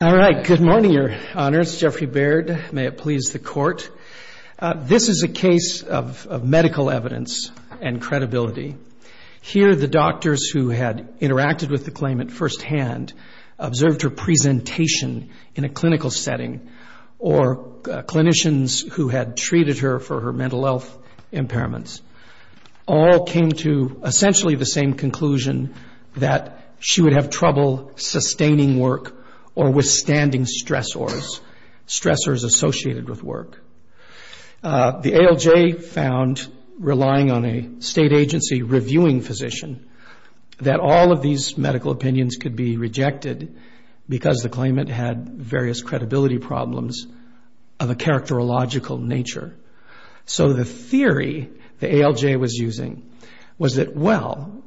All right. Good morning, Your Honors. Jeffrey Baird. May it please the Court. This is a case of medical evidence and credibility. Here, the doctors who had interacted with the claimant firsthand observed her presentation in a clinical setting, or clinicians who had treated her for her mental health impairments. All came to essentially the same conclusion, that she would have trouble sustaining work or withstanding stressors, stressors associated with work. The ALJ found, relying on a state agency reviewing physician, that all of these medical opinions could be rejected because the claimant had various credibility problems of a characterological nature. So the theory the ALJ was using was that, well,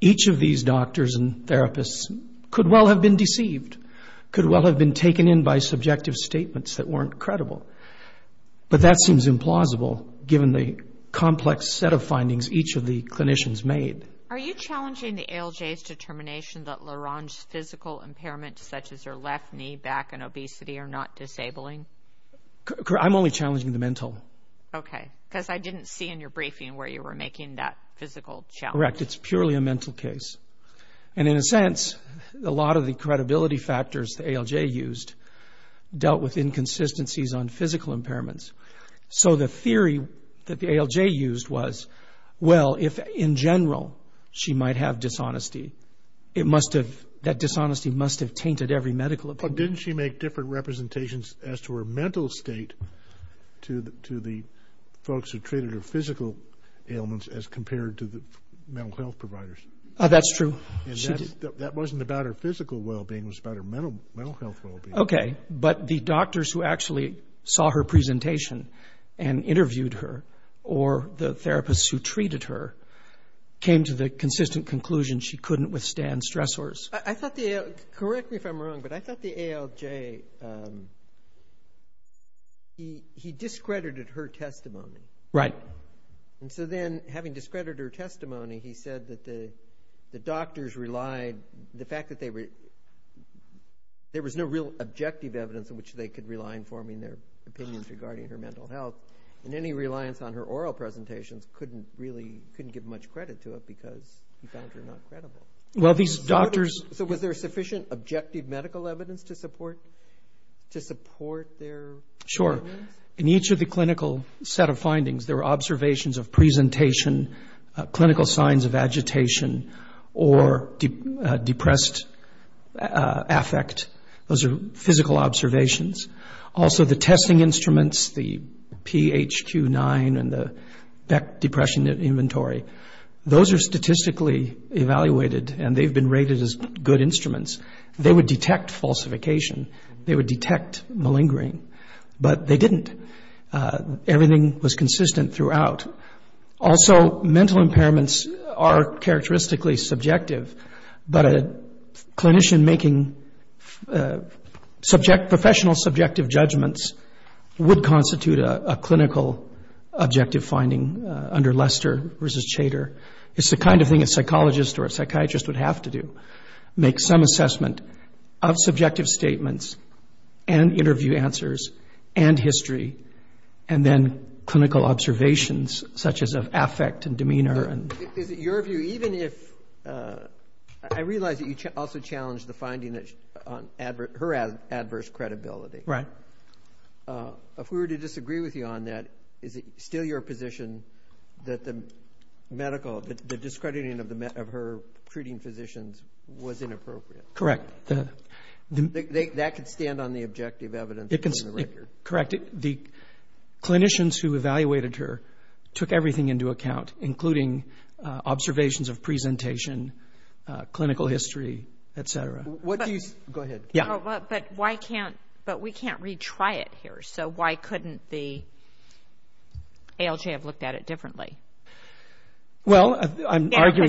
each of these doctors and therapists could well have been deceived, could well have been taken in by subjective statements that weren't credible. But that seems implausible, given the complex set of findings each of the clinicians made. Are you challenging the ALJ's determination that LaRonge's physical impairments, such as her left knee, back, and obesity, are not disabling? I'm only challenging the mental. Okay. Because I didn't see in your briefing where you were making that physical challenge. Correct. It's purely a mental case. And in a sense, a lot of the credibility factors the ALJ used dealt with inconsistencies on physical impairments. So the theory that the ALJ used was, well, if in general she might have dishonesty, it must have, that dishonesty must have tainted every medical opinion. But didn't she make different representations as to her mental state to the folks who treated her physical ailments as compared to the mental health providers? That's true. That wasn't about her physical well-being. It was about her mental health well-being. Okay. But the doctors who actually saw her presentation and interviewed her, or the therapists who treated her, came to the consistent conclusion she couldn't withstand stressors. Correct me if I'm wrong, but I thought the ALJ, he discredited her testimony. Right. And so then, having discredited her testimony, he said that the doctors relied, the fact that there was no real objective evidence in which they could rely on informing their opinions regarding her mental health, and any reliance on her oral presentations couldn't give much credit to it because he found her not credible. So was there sufficient objective medical evidence to support their findings? Sure. In each of the clinical set of findings, there were observations of presentation, clinical signs of agitation, or depressed affect. Those are physical observations. Also, the testing instruments, the PHQ-9 and the Beck Depression Inventory, those are statistically evaluated, and they've been rated as good instruments. But they didn't. Everything was consistent throughout. Also, mental impairments are characteristically subjective, but a clinician making professional subjective judgments would constitute a clinical objective finding under Lester versus Chater. It's the kind of thing a psychologist or a psychiatrist would have to do, to be consistent of subjective statements and interview answers and history, and then clinical observations, such as of affect and demeanor. Is it your view, even if, I realize that you also challenged the finding on her adverse credibility. Right. If we were to disagree with you on that, is it still your position that the medical, the discrediting of her treating physicians was inappropriate? That could stand on the objective evidence from the record. Correct. The clinicians who evaluated her took everything into account, including observations of presentation, clinical history, et cetera. But we can't retry it here, so why couldn't the ALJ have looked at it differently? You know, we do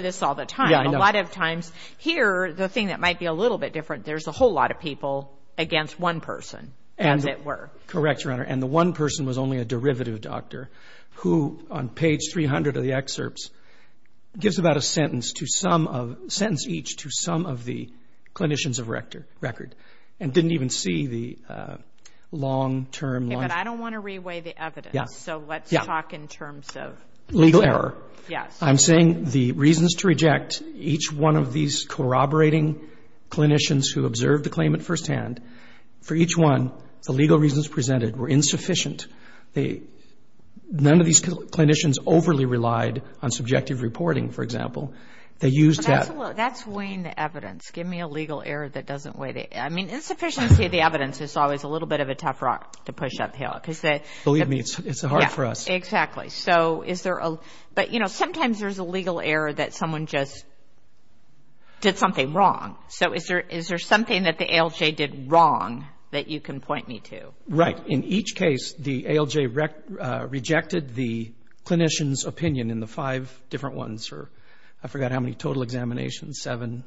this all the time. A lot of times here, the thing that might be a little bit different, there's a whole lot of people against one person, as it were. Correct, Your Honor. And the one person was only a derivative doctor, who on page 300 of the excerpts gives about a sentence each to some of the clinicians of record, and didn't even see the long-term... But I don't want to reweigh the evidence, so let's talk in terms of... Legal error. I'm saying the reasons to reject each one of these corroborating clinicians who observed the claimant firsthand, for each one, the legal reasons presented were insufficient. None of these clinicians overly relied on subjective reporting, for example. They used... That's weighing the evidence. Give me a legal error that doesn't weigh the... I mean, insufficiency of the evidence is always a little bit of a tough rock to push uphill. Believe me, it's hard for us. But sometimes there's a legal error that someone just did something wrong. So is there something that the ALJ did wrong that you can point me to? Right. In each case, the ALJ rejected the clinician's opinion in the five different ones, or I forgot how many total examinations, seven.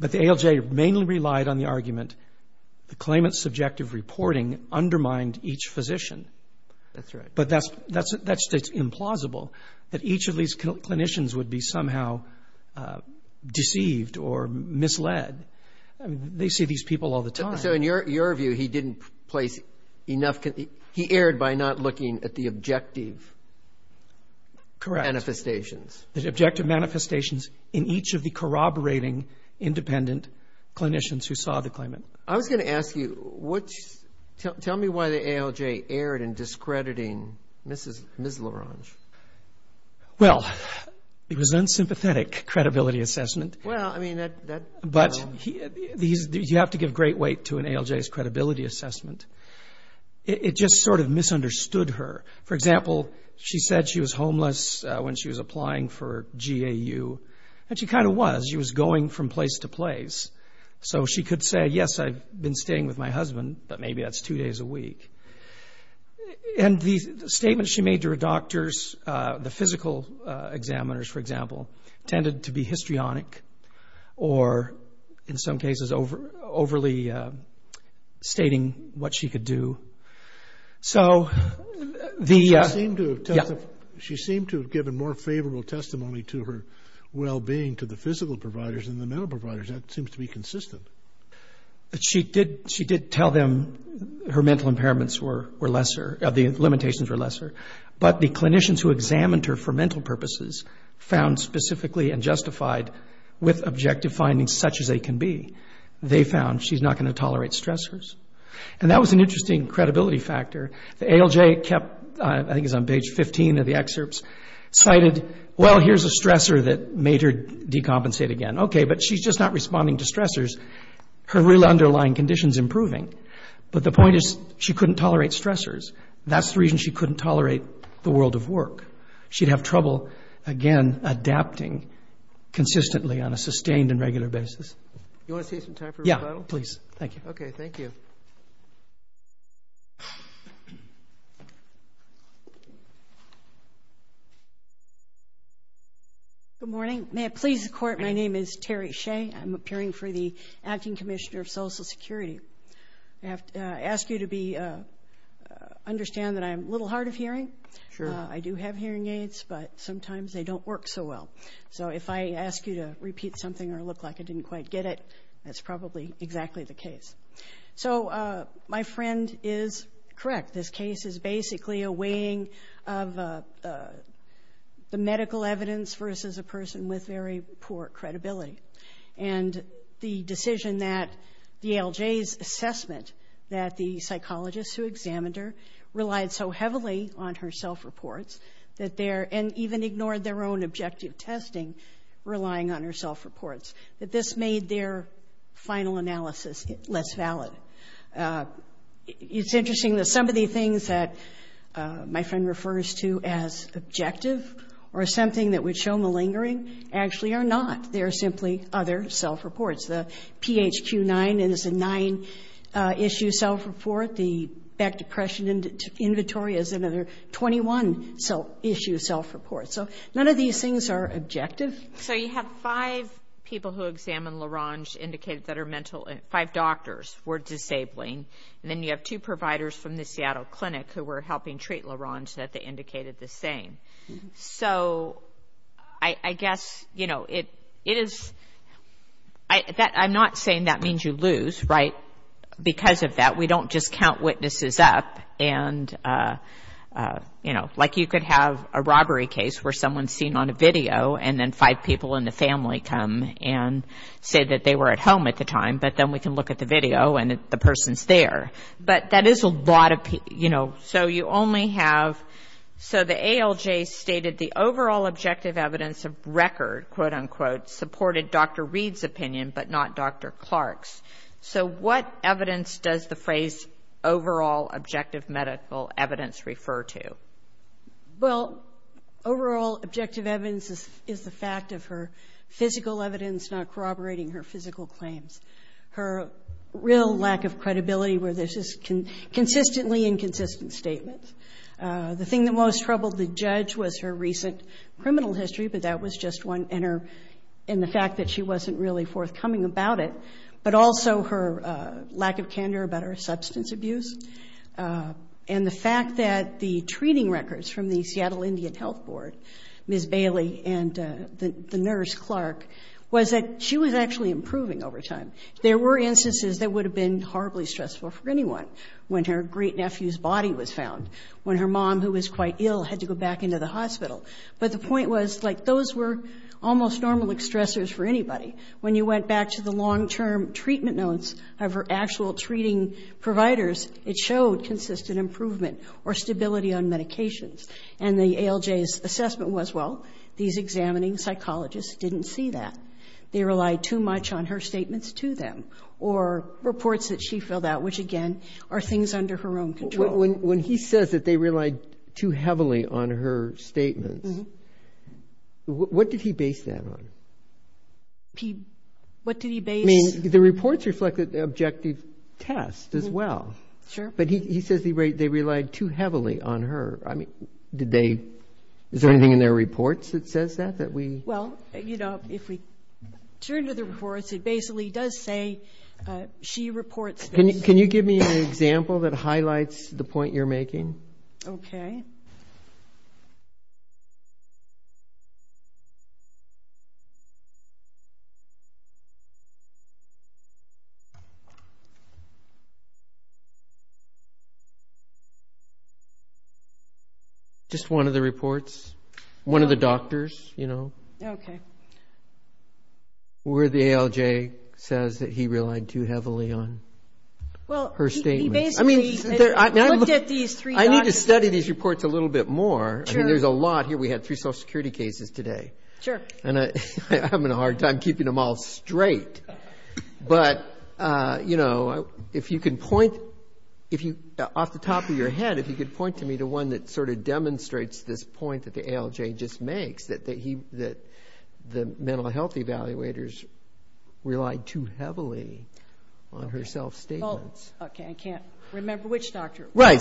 But the ALJ mainly relied on the argument, the claimant's subjective reporting undermined each physician. That's right. But that's implausible, that each of these clinicians would be somehow deceived or misled. They see these people all the time. So in your view, he didn't place enough... He erred by not looking at the objective manifestations. Correct. The objective manifestations in each of the corroborating independent clinicians who saw the claimant. I was going to ask you, tell me why the ALJ erred in discrediting Ms. LaRange. Well, it was an unsympathetic credibility assessment. You have to give great weight to an ALJ's credibility assessment. It just sort of misunderstood her. For example, she said she was homeless when she was applying for GAU, and she kind of was. She was going from place to place. So she could say, yes, I've been staying with my husband, but maybe that's two days a week. And the statements she made to her doctors, the physical examiners, for example, tended to be histrionic, or in some cases overly stating what she could do. She seemed to have given more favorable testimony to her well-being to the physical providers than the mental providers. That seems to be consistent. She did tell them her mental impairments were lesser, the limitations were lesser. But the clinicians who examined her for mental purposes found specifically and justified with objective findings such as they can be. They found she's not going to tolerate stressors. And that was an interesting credibility factor. The ALJ kept, I think it's on page 15 of the excerpts, cited, well, here's a stressor that made her decompensate again. Okay, but she's just not responding to stressors. Her real underlying condition's improving, but the point is she couldn't tolerate stressors. That's the reason she couldn't tolerate the world of work. She'd have trouble, again, adapting consistently on a sustained and regular basis. Good morning. May it please the Court, my name is Terry Shea. I'm appearing for the Acting Commissioner of Social Security. I ask you to understand that I'm a little hard of hearing. I do have hearing aids, but sometimes they don't work so well. So if I ask you to repeat something or look like I didn't quite get it, that's probably exactly the case. So my friend is correct. This case is basically a weighing of the medical evidence versus a person with very poor credibility. And the decision that the ALJ's assessment that the psychologists who examined her relied so heavily on her self-reports and even ignored their own objective testing, relying on her self-reports, that this made their final analysis less valid. It's interesting that some of the things that my friend refers to as objective or something that would show malingering actually are not. They are simply other self-reports. The PHQ-9 is a nine-issue self-report. The Back Depression Inventory is another 21-issue self-report. So none of these things are objective. So you have five people who examined LaRange indicated that are mental, five doctors were disabling, and then you have two providers from the Seattle Clinic who were helping treat LaRange that they indicated the same. So I guess it is, I'm not saying that means you lose, right? Because of that, we don't just count witnesses up. Like you could have a robbery case where someone's seen on a video and then five people in the family come and say that they were at home at the time, but then we can look at the video and the person's there. But that is a lot of, you know, so you only have, so the ALJ stated the overall objective evidence of record, quote-unquote, supported Dr. Reed's opinion but not Dr. Clark's. So what evidence does the phrase overall objective medical evidence refer to? Well, overall objective evidence is the fact of her physical evidence not corroborating her physical claims. Her real lack of credibility where there's just consistently inconsistent statements. The thing that most troubled the judge was her recent criminal history, but that was just one, and the fact that she wasn't really forthcoming about it, but also her lack of candor about her substance abuse, and the fact that the treating records from the Seattle Indian Health Board, Ms. Bailey and the nurse, Clark, was that she was actually improving over time. There were instances that would have been horribly stressful for anyone when her great-nephew's body was found, when her mom, who was quite ill, had to go back into the hospital. But the point was, like, those were almost normal stressors for anybody. When you went back to the long-term treatment notes of her actual treating providers, it showed consistent improvement or stability on medications. And the ALJ's assessment was, well, these examining psychologists didn't see that. They relied too much on her statements to them or reports that she filled out, which, again, are things under her own control. When he says that they relied too heavily on her statements, what did he base that on? I mean, the reports reflected the objective test as well. But he says they relied too heavily on her. Is there anything in their reports that says that? Well, you know, if we turn to the reports, it basically does say she reports those things. Can you give me an example that highlights the point you're making? Just one of the reports. One of the doctors, you know. Where the ALJ says that he relied too heavily on her statements. I mean, I need to study these reports a little bit more. I mean, there's a lot here. We had three Social Security cases today, and I'm having a hard time keeping them all straight. But, you know, off the top of your head, if you could point to me the one that sort of demonstrates this point that the ALJ just makes, that the mental health evaluators relied too heavily on her self-statements. I can't remember which doctor. No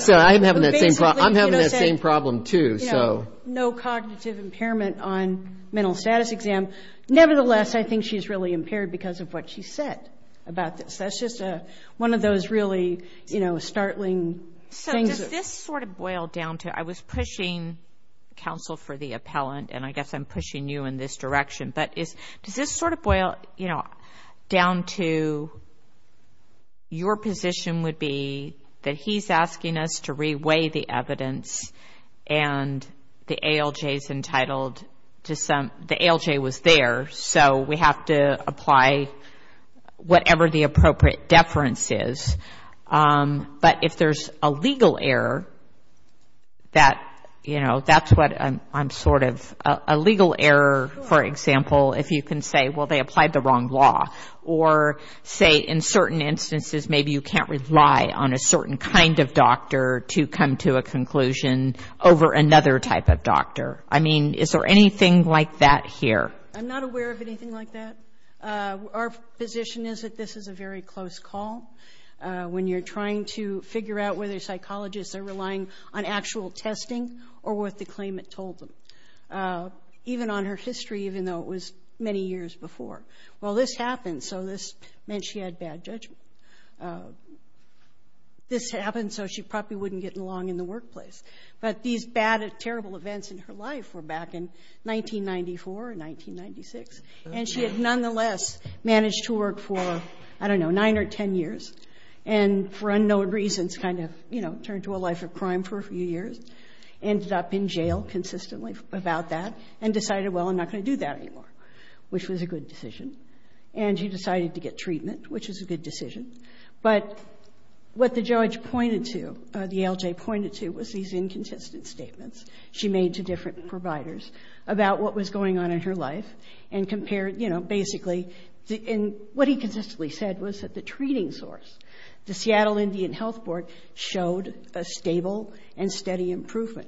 cognitive impairment on mental status exam. Nevertheless, I think she's really impaired because of what she said about this. That's just one of those really startling things. I was pushing counsel for the appellant, and I guess I'm pushing you in this direction. But does this sort of boil down to your position would be that he's asking us to re-weigh the evidence and the ALJ was there, so we have to apply whatever the appropriate deference is. But if there's a legal error, that, you know, that's what I'm sort of, a legal error, for example, if you can say, well, they applied the wrong law. Or say, in certain instances, maybe you can't rely on a certain kind of doctor to come to a conclusion over another type of doctor. I mean, is there anything like that here? I'm not aware of anything like that. Our position is that this is a very close call when you're trying to figure out whether psychologists are relying on actual testing or what the claimant told them. Even on her history, even though it was many years before. Well, this happened, so this meant she had bad judgment. This happened so she probably wouldn't get along in the workplace. But these bad, terrible events in her life were back in 1994 or 1996, and she had nonetheless managed to work for, I don't know, 9 or 10 years, and for unknown reasons kind of, you know, turned to a life of crime for a few years, ended up in jail consistently about that, and decided, well, I'm not going to do that anymore, which was a good decision. And she decided to get treatment, which was a good decision. But what the judge pointed to, the ALJ pointed to, was these inconsistent statements she made to different providers about what was going on in her life and compared, you know, basically, and what he consistently said was that the treating source, the Seattle Indian Health Board, showed a stable and steady improvement,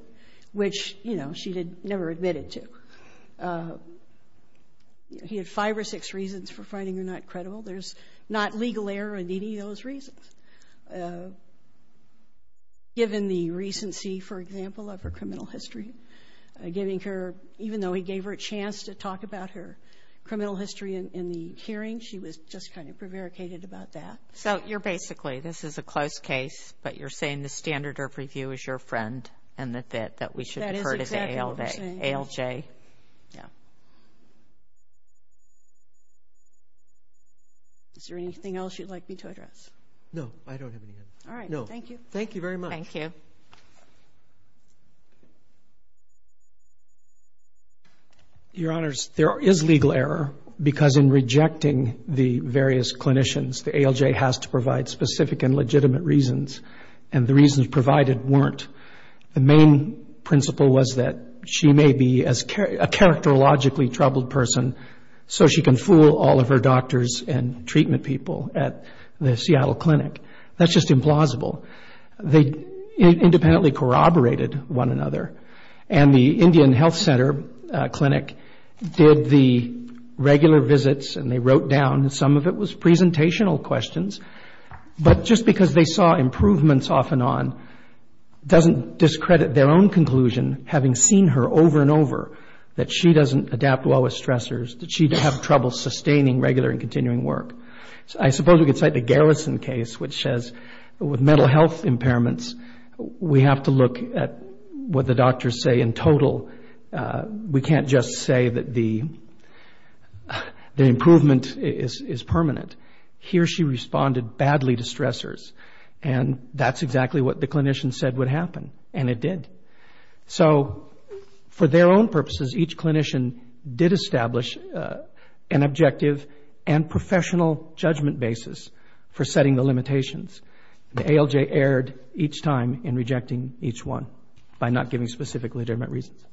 which, you know, she had never admitted to. He had five or six reasons for finding her not credible. There's not legal error in any of those reasons. Given the recency, for example, of her criminal history, giving her, even though he gave her a chance to talk about her criminal history in the hearing, she was just kind of prevaricated about that. So you're basically, this is a close case, but you're saying the standard of review is your friend and that we should refer to the ALJ. Is there anything else you'd like me to address? No, I don't have anything. Your Honors, there is legal error because in rejecting the various clinicians, the ALJ has to provide specific and legitimate reasons, and the reasons provided weren't. The main principle was that she may be a characterologically troubled person so she can fool all of her doctors and treatment people at the Seattle Clinic. That's just implausible. They independently corroborated one another, and the Indian Health Center Clinic did the regular visits and they wrote down, and some of it was presentational questions, but just because they saw improvements off and on doesn't discredit their own conclusion, having seen her over and over, that she doesn't adapt well with stressors, that she'd have trouble sustaining regular and continuing work. I suppose we could cite the Garrison case, which says with mental health impairments, we have to look at what the doctors say in total. We can't just say that the improvement is permanent. Here she responded badly to stressors, and that's exactly what the clinician said would happen, and it did. So for their own purposes, each clinician did establish an objective and professional judgment basis for setting the limitations, and ALJ erred each time in rejecting each one by not giving specific legitimate reasons.